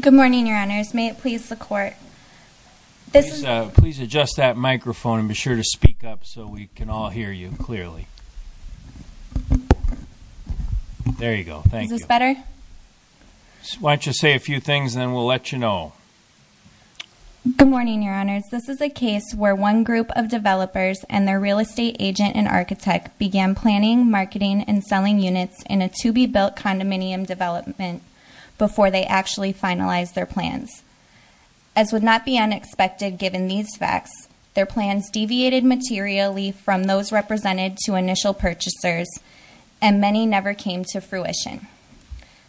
Good morning, Your Honors. May it please the Court? Please adjust that microphone and be sure to speak up so we can all hear you clearly. There you go. Thank you. Is this better? Why don't you say a few things and then we'll let you know. Good morning, Your Honors. This is a case where one group of developers and their real estate agent and architect began planning, marketing, and selling units in a to-be-built condominium development. before they actually finalized their plans. As would not be unexpected given these facts, their plans deviated materially from those represented to initial purchasers, and many never came to fruition.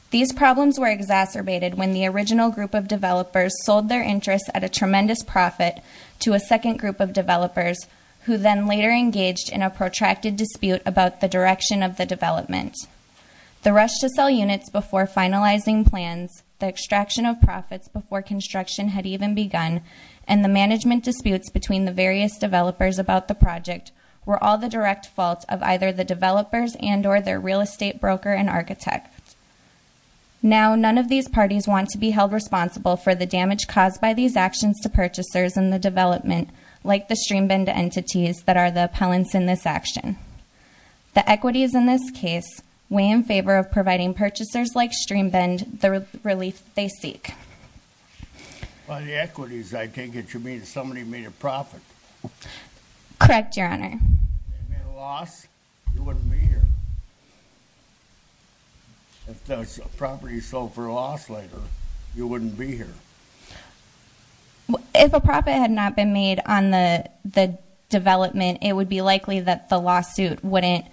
These problems were exacerbated when the original group of developers sold their interests at a tremendous profit to a second group of developers, who then later engaged in a protracted dispute about the direction of the development. The rush to sell units before finalizing plans, the extraction of profits before construction had even begun, and the management disputes between the various developers about the project were all the direct fault of either the developers and or their real estate broker and architect. Now, none of these parties want to be held responsible for the damage caused by these actions to purchasers and the development, like the streambend entities that are the appellants in this action. The equities in this case weigh in favor of providing purchasers like streambend the relief they seek. By the equities, I take it you mean somebody made a profit? Correct, Your Honor. They made a loss? You wouldn't be here. If the property sold for a loss later, you wouldn't be here. If a profit had not been made on the development, it would be likely that the lawsuit wouldn't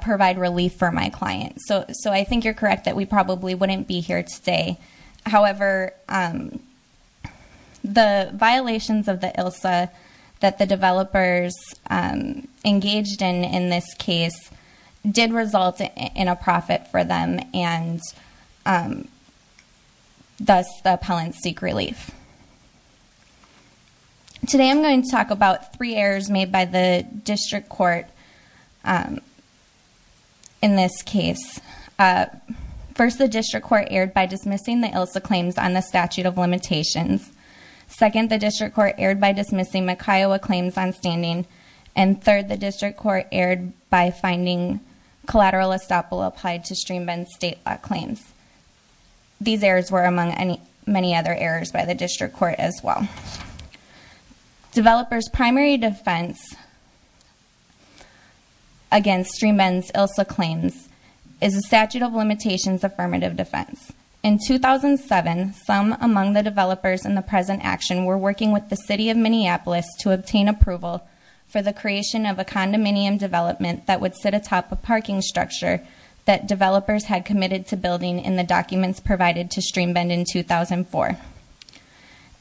provide relief for my client. So I think you're correct that we probably wouldn't be here today. However, the violations of the ILSA that the developers engaged in in this case did result in a profit for them, and thus the appellants seek relief. Today I'm going to talk about three errors made by the district court in this case. First, the district court erred by dismissing the ILSA claims on the statute of limitations. Second, the district court erred by dismissing McKiowa claims on standing. And third, the district court erred by finding collateral estoppel applied to streambend state law claims. These errors were among many other errors by the district court as well. Developers' primary defense against Streambend's ILSA claims is a statute of limitations affirmative defense. In 2007, some among the developers in the present action were working with the city of Minneapolis to obtain approval for the creation of a condominium development that would sit atop a parking structure that developers had committed to building in the documents provided to Streambend in 2004.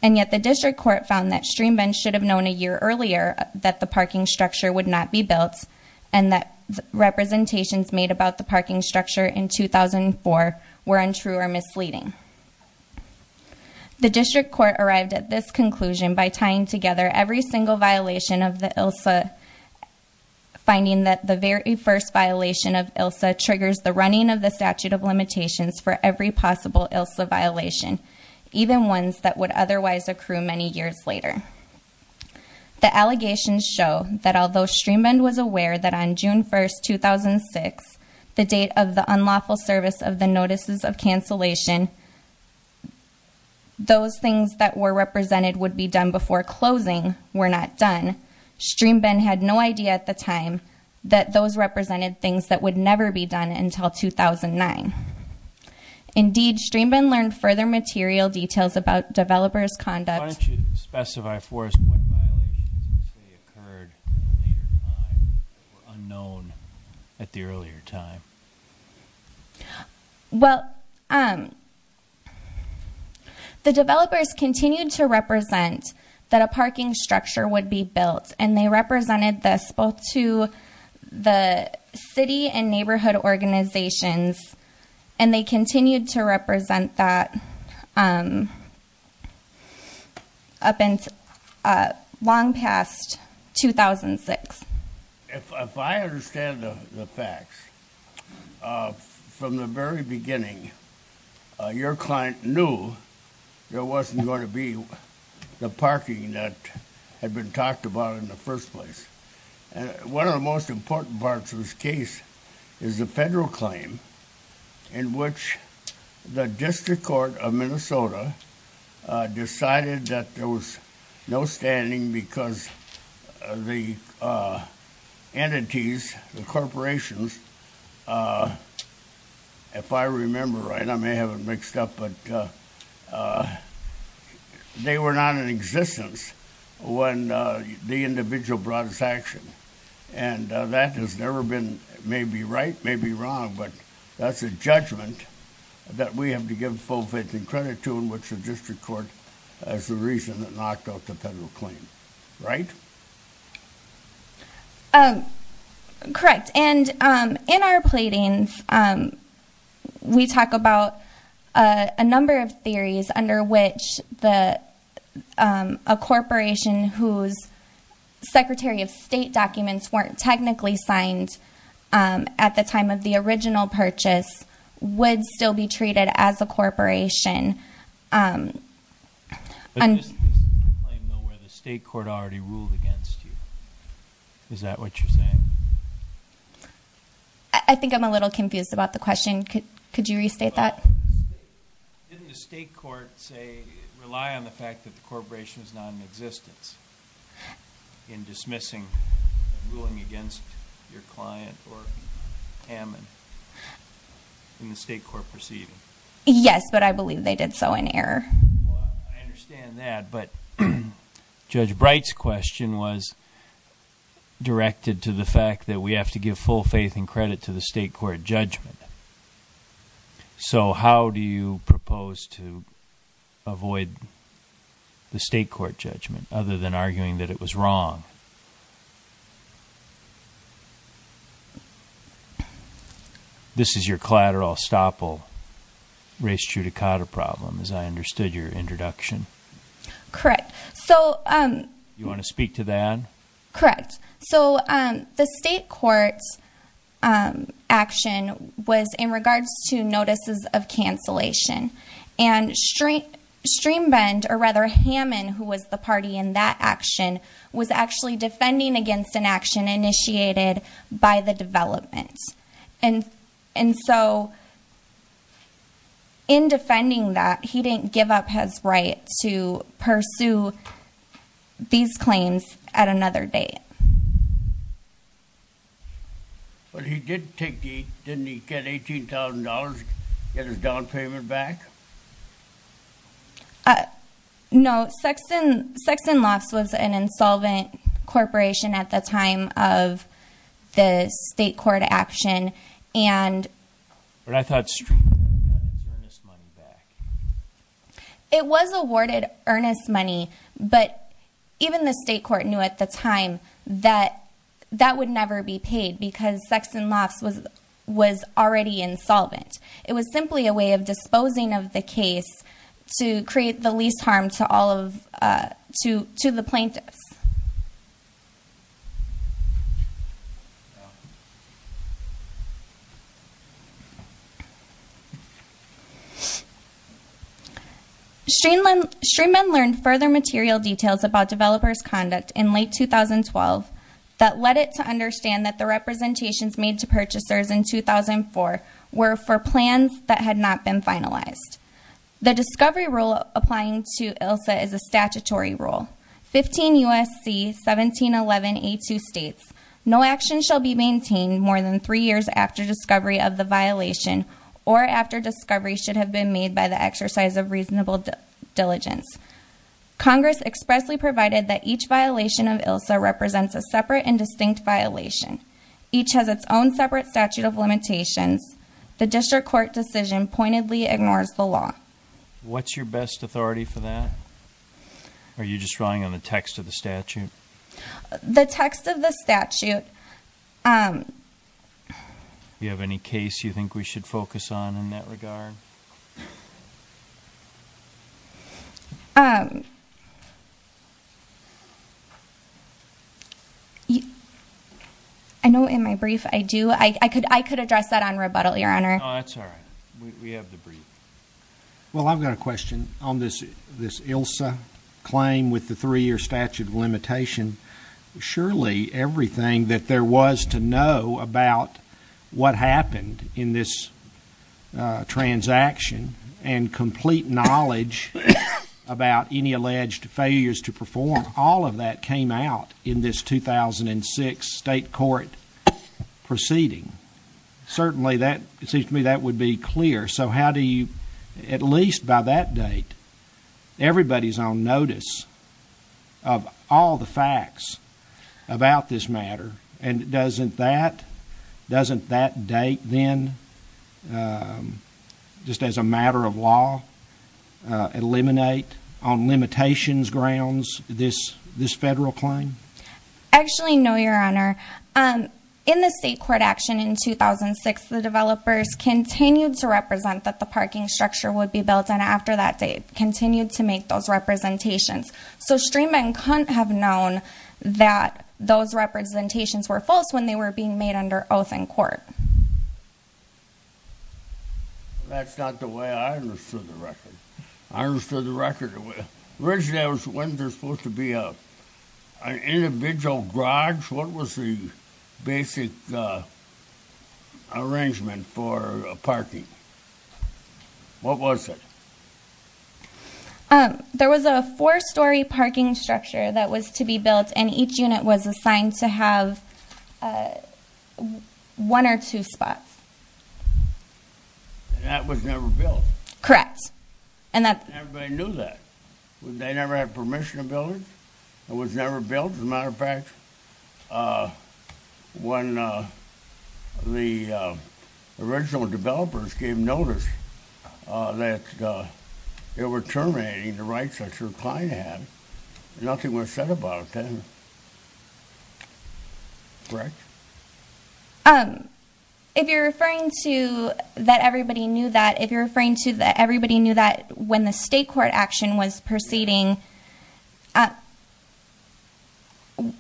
And yet the district court found that Streambend should have known a year earlier that the parking structure would not be built, and that representations made about the parking structure in 2004 were untrue or misleading. The district court arrived at this conclusion by tying together every single violation of the ILSA, finding that the very first violation of ILSA triggers the running of the statute of limitations for every possible ILSA violation, even ones that would otherwise accrue many years later. The allegations show that although Streambend was aware that on June 1st, 2006, the date of the unlawful service of the notices of cancellation, those things that were represented would be done before closing were not done, Streambend had no idea at the time that those represented things that would never be done until 2009. Indeed, Streambend learned further material details about developers' conduct. Well, the developers continued to represent that a parking structure would be built, and they represented this both to the city and neighborhood organizations, and they continued to represent that up until long past 2006. If I understand the facts, from the very beginning, your client knew there wasn't going to be the parking that had been talked about in the first place. One of the most important parts of this case is the federal claim, in which the district court of Minnesota decided that there was no standing because the entities, the corporations, if I remember right, I may have it mixed up, but they were not in existence when the individual brought his action. And that has never been, maybe right, maybe wrong, but that's a judgment that we have to give full faith and credit to, in which the district court is the reason that knocked out the federal claim, right? Correct. And in our pleadings, we talk about a number of theories under which a corporation whose Secretary of State documents weren't technically signed at the time of the original purchase would still be treated as a corporation. But this is a claim, though, where the state court already ruled against you. Is that what you're saying? I think I'm a little confused about the question. Could you restate that? Didn't the state court, say, rely on the fact that the corporation was not in existence in dismissing and ruling against your client or Hammond in the state court proceeding? Yes, but I believe they did so in error. I understand that, but Judge Bright's question was directed to the fact that we have to give full faith and credit to the state court judgment. So how do you propose to avoid the state court judgment, other than arguing that it was wrong? This is your collateral estoppel, res judicata problem, as I understood your introduction. Correct. So... You want to speak to that? Correct. So the state court's action was in regards to notices of cancellation. And Streambend, or rather Hammond, who was the party in that action, was actually defending against an action initiated by the development. And so, in defending that, he didn't give up his right to pursue these claims at another date. But he did take the, didn't he get $18,000, get his down payment back? No, Sexton Lofts was an insolvent corporation at the time of the state court action, and... But I thought Streambend got his earnest money back. It was awarded earnest money, but even the state court knew at the time that that would never be paid, because Sexton Lofts was already insolvent. It was simply a way of disposing of the case to create the least harm to all of, to the plaintiffs. Streambend learned further material details about developers' conduct in late 2012 that led it to understand that the representations made to purchasers in 2004 were for plans that had not been finalized. The discovery rule applying to ILSA is a statutory rule. 15 U.S.C. 1711A2 states, no action shall be maintained more than three years after discovery of the violation or after discovery should have been made by the exercise of reasonable diligence. Congress expressly provided that each violation of ILSA represents a separate and distinct violation. Each has its own separate statute of limitations. The district court decision pointedly ignores the law. What's your best authority for that? Are you just drawing on the text of the statute? The text of the statute. Do you have any case you think we should focus on in that regard? I know in my brief I do. I could address that on rebuttal, Your Honor. No, that's all right. We have the brief. Well, I've got a question on this ILSA claim with the three-year statute of limitation. Surely everything that there was to know about what happened in this transaction and complete knowledge about any alleged failures to perform, all of that came out in this 2006 state court proceeding. Certainly, it seems to me that would be clear. So how do you, at least by that date, everybody's on notice of all the facts about this matter. And doesn't that date then, just as a matter of law, eliminate on limitations grounds this federal claim? Actually, no, Your Honor. In the state court action in 2006, the developers continued to represent that the parking structure would be built. And after that date, continued to make those representations. So Streeman couldn't have known that those representations were false when they were being made under oath in court. That's not the way I understood the record. I understood the record the way... Originally, wasn't there supposed to be an individual garage? That was the basic arrangement for parking. What was it? There was a four-story parking structure that was to be built, and each unit was assigned to have one or two spots. And that was never built? Correct. Everybody knew that. They never had permission to build it? It was never built, as a matter of fact? When the original developers gave notice that they were terminating the rights that your client had, nothing was said about it then? Correct? If you're referring to that everybody knew that, if you're referring to that everybody knew that when the state court action was proceeding,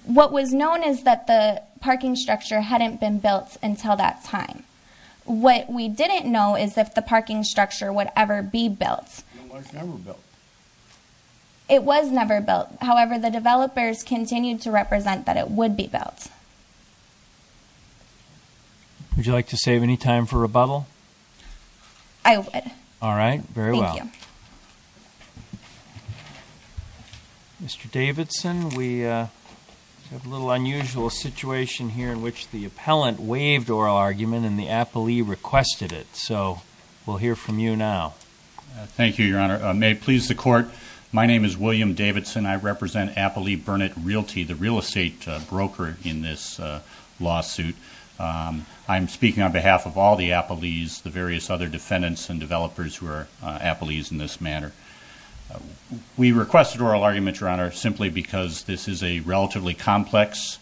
what was known is that the parking structure hadn't been built until that time. What we didn't know is if the parking structure would ever be built. It was never built? It was never built. However, the developers continued to represent that it would be built. Would you like to save any time for rebuttal? I would. All right, very well. Thank you. Mr. Davidson, we have a little unusual situation here in which the appellant waived oral argument and the appellee requested it. So we'll hear from you now. Thank you, Your Honor. May it please the Court, my name is William Davidson. I represent Appellee Burnett Realty, the real estate broker in this lawsuit. I'm speaking on behalf of all the appellees, the various other defendants and developers who are appellees in this matter. We requested oral argument, Your Honor, simply because this is a relatively complex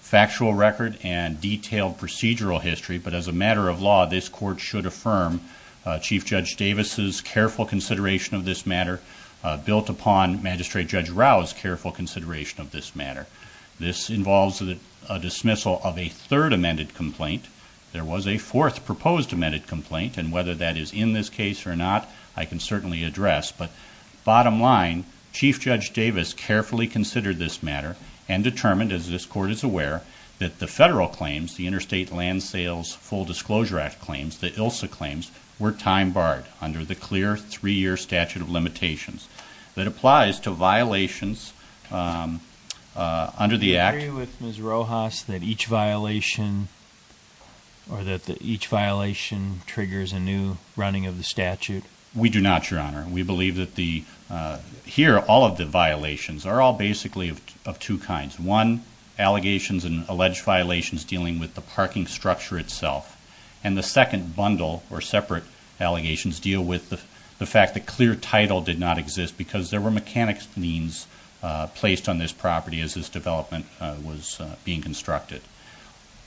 factual record and detailed procedural history, but as a matter of law, this Court should affirm Chief Judge Davis' careful consideration of this matter built upon Magistrate Judge Rao's careful consideration of this matter. This involves a dismissal of a third amended complaint. There was a fourth proposed amended complaint, and whether that is in this case or not, I can certainly address. But bottom line, Chief Judge Davis carefully considered this matter and determined, as this Court is aware, that the federal claims, the Interstate Land Sales Full Disclosure Act claims, the ILSA claims, were time barred under the clear three-year statute of limitations. That applies to violations under the Act. Do you agree with Ms. Rojas that each violation, or that each violation triggers a new running of the statute? We do not, Your Honor. We believe that the, here, all of the violations are all basically of two kinds. One, allegations and alleged violations dealing with the parking structure itself. And the second bundle, or separate allegations, deal with the fact that clear title did not exist because there were mechanics means placed on this property as this development was being constructed.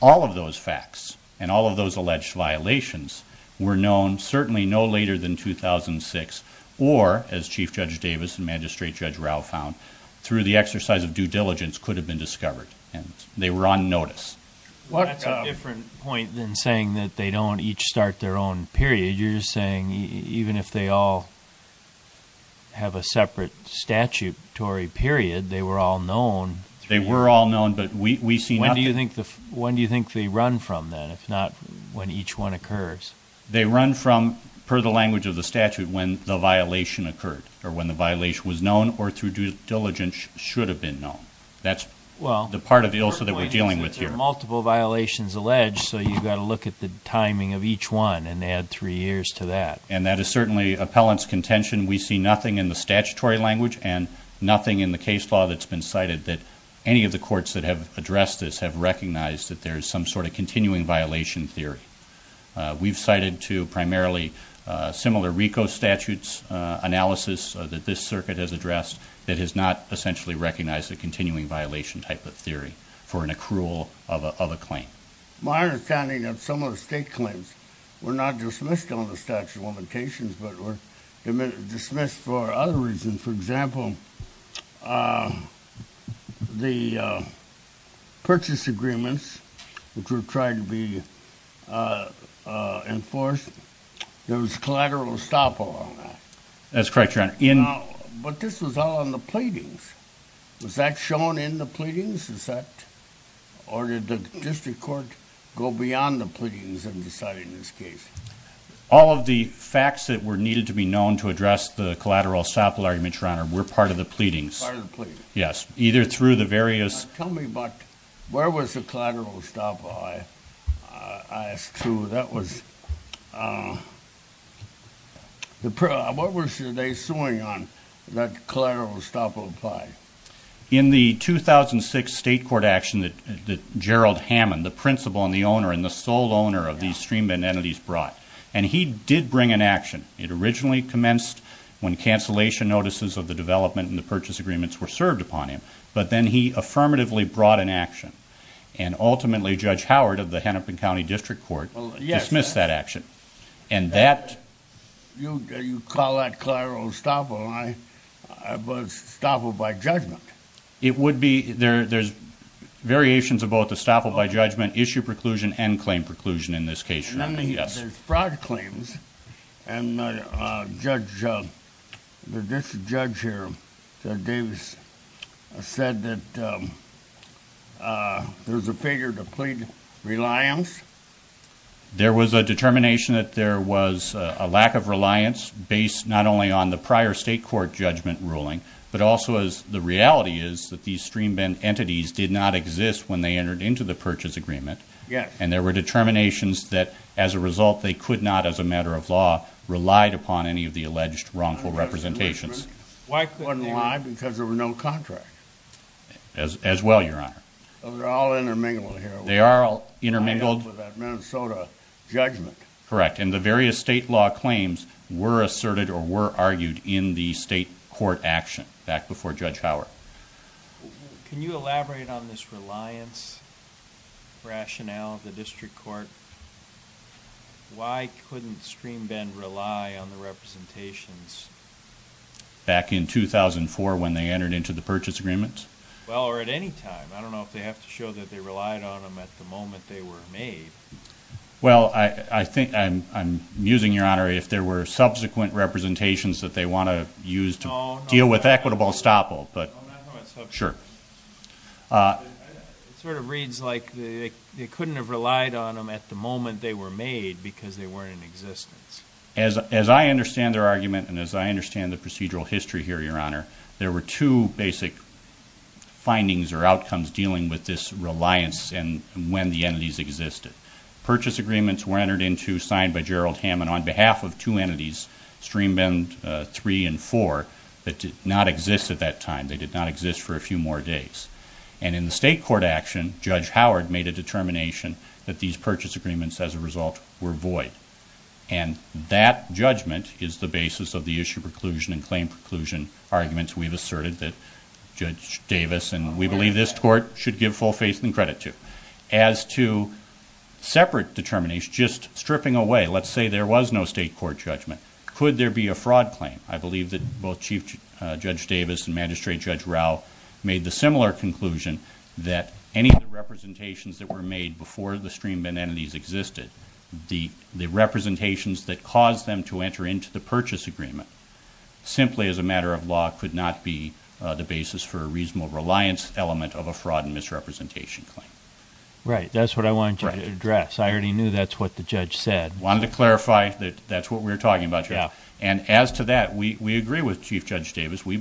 All of those facts, and all of those alleged violations, were known certainly no later than 2006, or, as Chief Judge Davis and Magistrate Judge Rauh found, through the exercise of due diligence, could have been discovered. And they were on notice. That's a different point than saying that they don't each start their own period. You're just saying even if they all have a separate statutory period, they were all known. They were all known, but we see nothing. When do you think they run from, then, if not when each one occurs? They run from, per the language of the statute, when the violation occurred, or when the violation was known, or through due diligence should have been known. That's the part of the illicit that we're dealing with here. Well, your point is that there are multiple violations alleged, so you've got to look at the timing of each one, and add three years to that. And that is certainly appellant's contention. We see nothing in the statutory language, and nothing in the case law that's been cited that any of the courts that have addressed this have recognized that there is some sort of continuing violation theory. We've cited two primarily similar RICO statutes, analysis that this circuit has addressed, that has not essentially recognized a continuing violation type of theory for an accrual of a claim. My understanding of some of the state claims were not dismissed on the statute of limitations, but were dismissed for other reasons. For example, the purchase agreements, which were trying to be enforced, there was collateral estoppel on that. That's correct, Your Honor. But this was all on the pleadings. Was that shown in the pleadings? Or did the district court go beyond the pleadings in deciding this case? All of the facts that were needed to be known to address the collateral estoppel argument, Your Honor, were part of the pleadings. Part of the pleadings. Yes, either through the various... Tell me, where was the collateral estoppel? That's true. What was they suing on, that collateral estoppel? In the 2006 state court action that Gerald Hammond, the principal and the owner, and the sole owner of these streambed entities, brought. And he did bring an action. It originally commenced when cancellation notices of the development and the purchase agreements were served upon him. But then he affirmatively brought an action. And ultimately, Judge Howard of the Hennepin County District Court dismissed that action. And that... You call that collateral estoppel, but it's estoppel by judgment. It would be... There's variations of both estoppel by judgment, issue preclusion, and claim preclusion in this case, Your Honor. And then there's fraud claims. And the judge... This judge here, Judge Davis, said that there's a failure to plead reliance. There was a determination that there was a lack of reliance based not only on the prior state court judgment ruling, but also as the reality is that these streambed entities did not exist when they entered into the purchase agreement. Yes. And there were determinations that, as a result, they could not, as a matter of law, relied upon any of the alleged wrongful representations. Why couldn't they? Because there were no contracts. As well, Your Honor. They're all intermingled here. They are all intermingled. With that Minnesota judgment. Correct. And the various state law claims were asserted or were argued in the state court action back before Judge Howard. Can you elaborate on this reliance rationale of the district court? Why couldn't streambed rely on the representations? Back in 2004 when they entered into the purchase agreement. Well, or at any time. I don't know if they have to show that they relied on them at the moment they were made. Well, I'm musing, Your Honor, if there were subsequent representations that they want to use to deal with equitable estoppel. I'm not talking about subsequent. It just reads like they couldn't have relied on them at the moment they were made because they weren't in existence. As I understand their argument and as I understand the procedural history here, Your Honor, there were two basic findings or outcomes dealing with this reliance and when the entities existed. Purchase agreements were entered into signed by Gerald Hammond on behalf of two entities, streambed three and four that did not exist at that time. Judge Howard made a determination that these purchase agreements as a result were void and that judgment is the basis of the issue preclusion and claim preclusion arguments we've asserted that Judge Davis and we believe this court should give full faith and credit to. As to separate determination, just stripping away, let's say there was no state court judgment, could there be a fraud claim? I believe that both Chief Judge Davis and Magistrate Judge Rao believe that the representations that were made before the streambed entities existed, the representations that caused them to enter into the purchase agreement simply as a matter of law could not be the basis for a reasonable reliance element of a fraud and misrepresentation claim. Right, that's what I wanted to address. I already knew that's what the judge said. Wanted to clarify that that's what we're talking about here and as to that, we agree with Chief Judge Davis. Our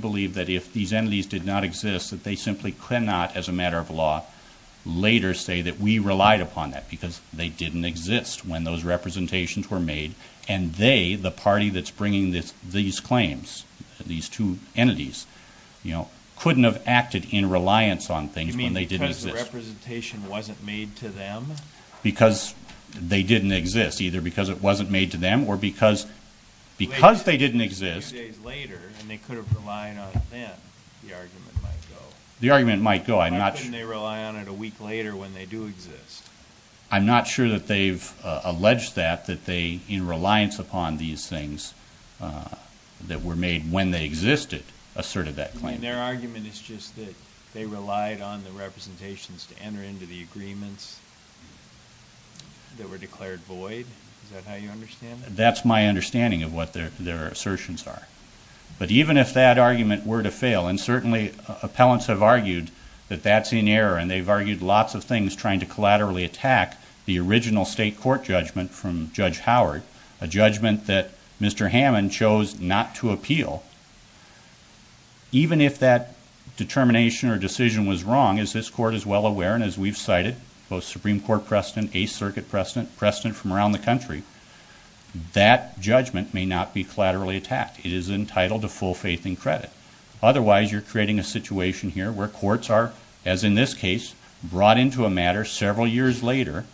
leaders say that we relied upon that because they didn't exist when those representations were made and they, the party that's bringing these claims, these two entities, you know, couldn't have acted in reliance on things when they didn't exist. You mean because the representation wasn't made to them? Because they didn't exist, either because it wasn't made to them or because they didn't exist. Later, a few days later and they could have relied on it then, the argument might go. The argument might go. Why couldn't they rely on it a week later when they do exist? I'm not sure that they've alleged that, that they, in reliance upon these things that were made when they existed, asserted that claim. You mean their argument is just that they relied on the representations to enter into the agreements that were declared void? Is that how you understand it? That's my understanding of what their assertions are. Well, and certainly appellants have argued that that's in error and they've argued lots of things trying to collaterally attack the original state court judgment from Judge Howard, a judgment that Mr. Hammond chose not to appeal. Even if that determination or decision was wrong, as this court is well aware and as we've cited, both Supreme Court precedent, 8th Circuit precedent, precedent from around the country, as you're creating a situation here where courts are, as in this case, brought into a matter several years later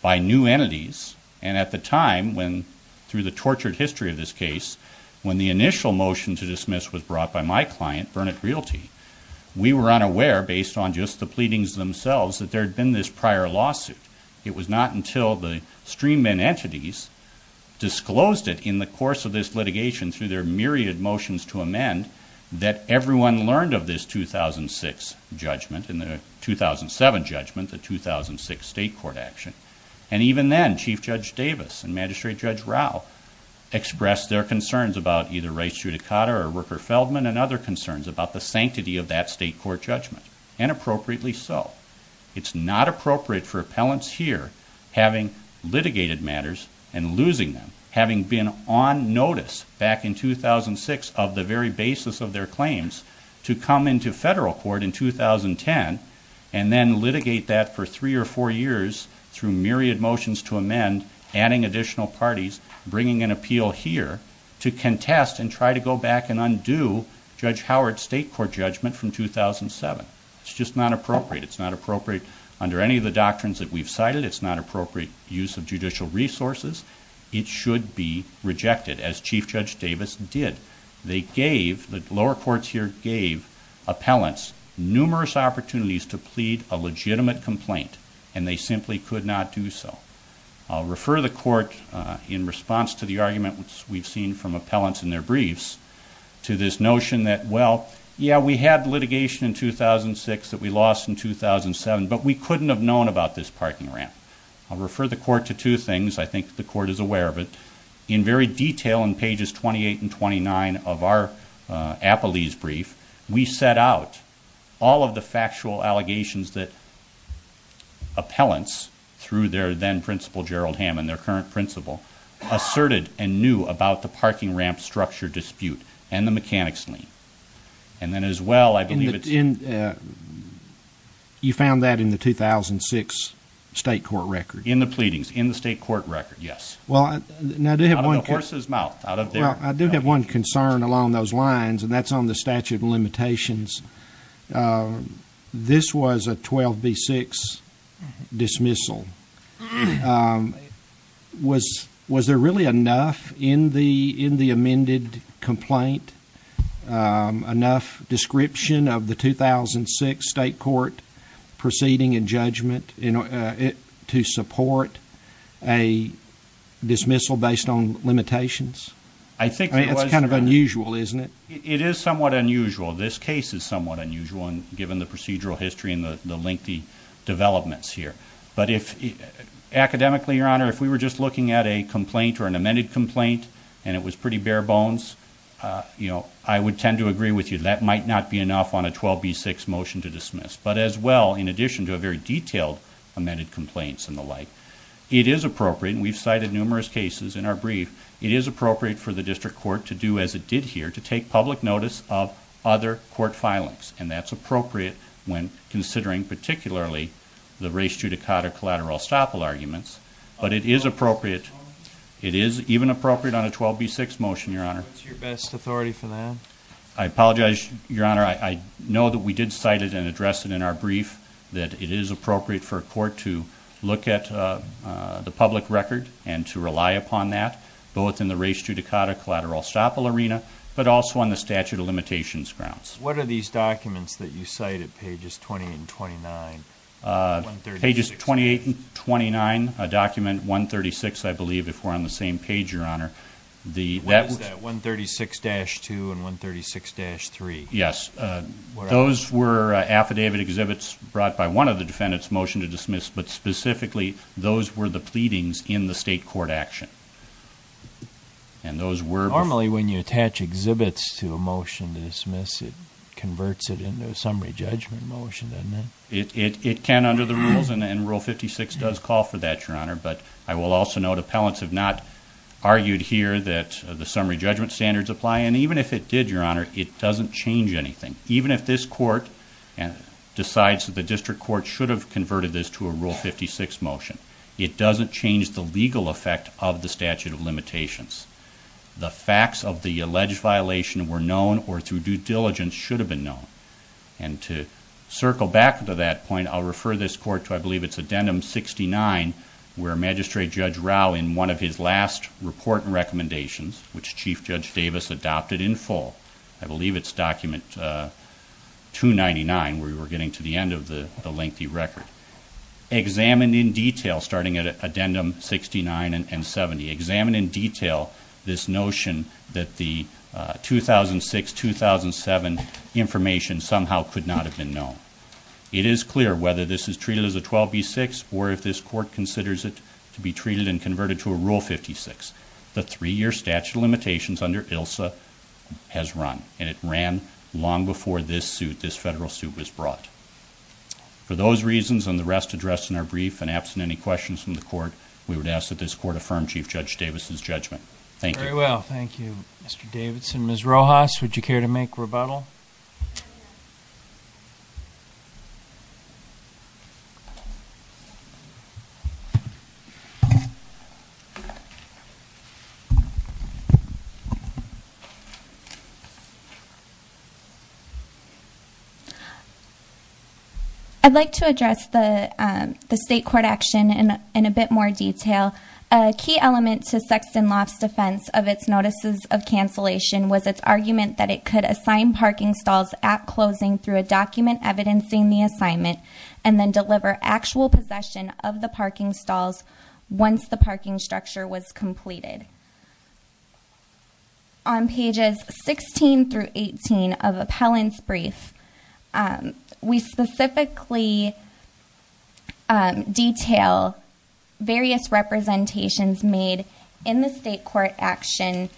by new entities and at the time when, through the tortured history of this case, when the initial motion to dismiss was brought by my client, Burnett Realty, we were unaware, based on just the pleadings themselves, that there had been this prior lawsuit. disclosed it in the course of this litigation through their myriad motions to amend and we learned of this 2006 judgment and the 2007 judgment, the 2006 state court action and even then, Chief Judge Davis and Magistrate Judge Rao expressed their concerns about either Rice-Judicata or Rooker-Feldman and other concerns about the sanctity of that state court judgment and appropriately so. It's not appropriate for appellants here having litigated matters and losing them, having been on notice back in 2006 of the very basis to come into federal court in 2010 and then litigate that for three or four years through myriad motions to amend, adding additional parties, bringing an appeal here to contest and try to go back and undo Judge Howard's state court judgment from 2007. It's just not appropriate. It's not appropriate under any of the doctrines that we've cited. It's not appropriate use of judicial resources. It should be rejected as Chief Judge Davis did. Appellants, numerous opportunities to plead a legitimate complaint and they simply could not do so. I'll refer the court in response to the argument which we've seen from appellants in their briefs to this notion that, well, yeah, we had litigation in 2006 that we lost in 2007, but we couldn't have known about this parking ramp. I'll refer the court to two things. I think the court is aware of it. We set out all of the factual allegations that appellants through their then Principal Gerald Hammond, their current principal, asserted and knew about the parking ramp structure dispute and the mechanics lien. And then as well I believe it's... You found that in the 2006 state court record? In the pleadings, in the state court record, yes. Out of the horse's mouth. Well, I do have one concern about the limitations. This was a 12B6 dismissal. Was there really enough in the amended complaint, enough description of the 2006 state court proceeding and judgment to support a dismissal based on limitations? I mean, it's kind of unusual, isn't it? It is somewhat unusual. This is somewhat unusual given the procedural history and the lengthy developments here. But academically, Your Honor, if we were just looking at a complaint or an amended complaint and it was pretty bare bones, I would tend to agree with you that might not be enough on a 12B6 motion to dismiss. But as well, in addition to a very detailed amended complaint and the like, it is appropriate, and we've cited numerous cases of silence, and that's appropriate when considering particularly the res judicata collateral estoppel arguments. But it is appropriate. It is even appropriate on a 12B6 motion, Your Honor. What's your best authority for that? I apologize, Your Honor. I know that we did cite it and address it in our brief that it is appropriate for a court to look at the public record and to rely upon that, both in the res judicata and in the public record. What are those documents that you cite at pages 28 and 29? Pages 28 and 29, document 136, I believe, if we're on the same page, Your Honor. What is that, 136-2 and 136-3? Yes. Those were affidavit exhibits brought by one of the defendants, motion to dismiss. But specifically, those were the pleadings in the state court action. It converts it into a summary judgment motion, doesn't it? It can under the rules and Rule 56 does call for that, Your Honor. But I will also note appellants have not argued here that the summary judgment standards apply. And even if it did, Your Honor, it doesn't change anything. Even if this court decides that the district court should have converted this to a Rule 56 motion, it doesn't change the legal effect of the statute of limitations. And to circle back to that point, I'll refer this court to, I believe it's addendum 69, where Magistrate Judge Rao, in one of his last report and recommendations, which Chief Judge Davis adopted in full, I believe it's document 299, where we're getting to the end of the lengthy record, examined in detail, starting at addendum 69 and 70, examined in detail this notion that the 2006-2007 information somehow could not have been known. It is clear whether this is treated as a 12B6 or if this court considers it to be treated and converted to a Rule 56, the three-year statute of limitations under ILSA has run. And it ran long before this suit, this federal suit, was brought. For those reasons, and the rest addressed in our brief and absent any questions from the court, we would ask that this court affirm Chief Judge Davis's judgment. Thank you. I'd like to address the state court action in a bit more detail. A key element to Sexton Laf's defense of its notices of cancellation was its argument that it could assign parking and housing through a document evidencing the assignment and then deliver actual possession of the parking stalls once the parking structure was completed. On pages 16 through 18 of appellant's brief, we specifically detail various representations made in the state court action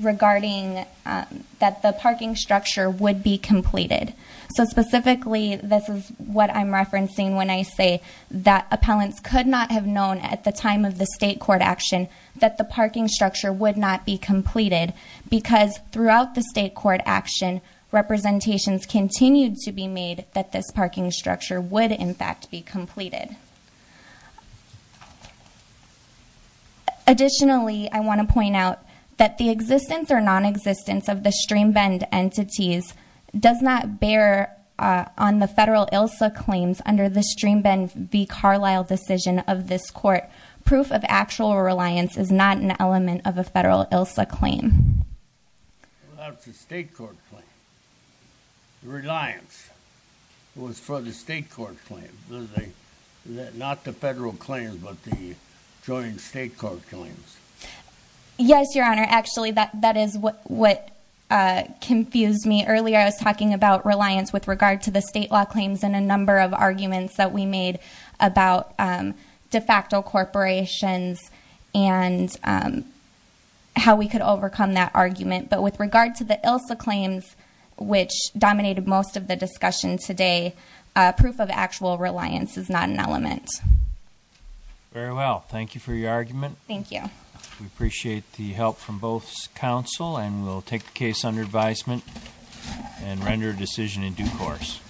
regarding that the parking structure would be completed. So specifically, this is what I'm referencing when I say that appellants could not have known at the time of the state court action that the parking structure would not be completed because throughout the state court action, representations continued to be made that this parking structure would, in fact, be completed. Additionally, I want to point out that the existence or non-existence of the stream bend entities does not bear on the federal ILSA claims under the stream bend v. Carlisle decision of this court. Proof of actual reliance is not an element of a federal ILSA claim. That's a state court claim. Reliance was for the state court claim. Not the federal claims, but the joint state court claims. Yes, Your Honor. Actually, that is what confused me earlier. I was talking about reliance with regard to the state law claims and a number of arguments that we made about de facto corporations and how we could overcome that argument. But with regard to the ILSA claims, which dominated most of the discussion today, proof of actual reliance is not an element. Very well. Thank you for your argument. Thank you. We appreciate the help from both counsel and we'll take the case under advisement and render a decision in due course.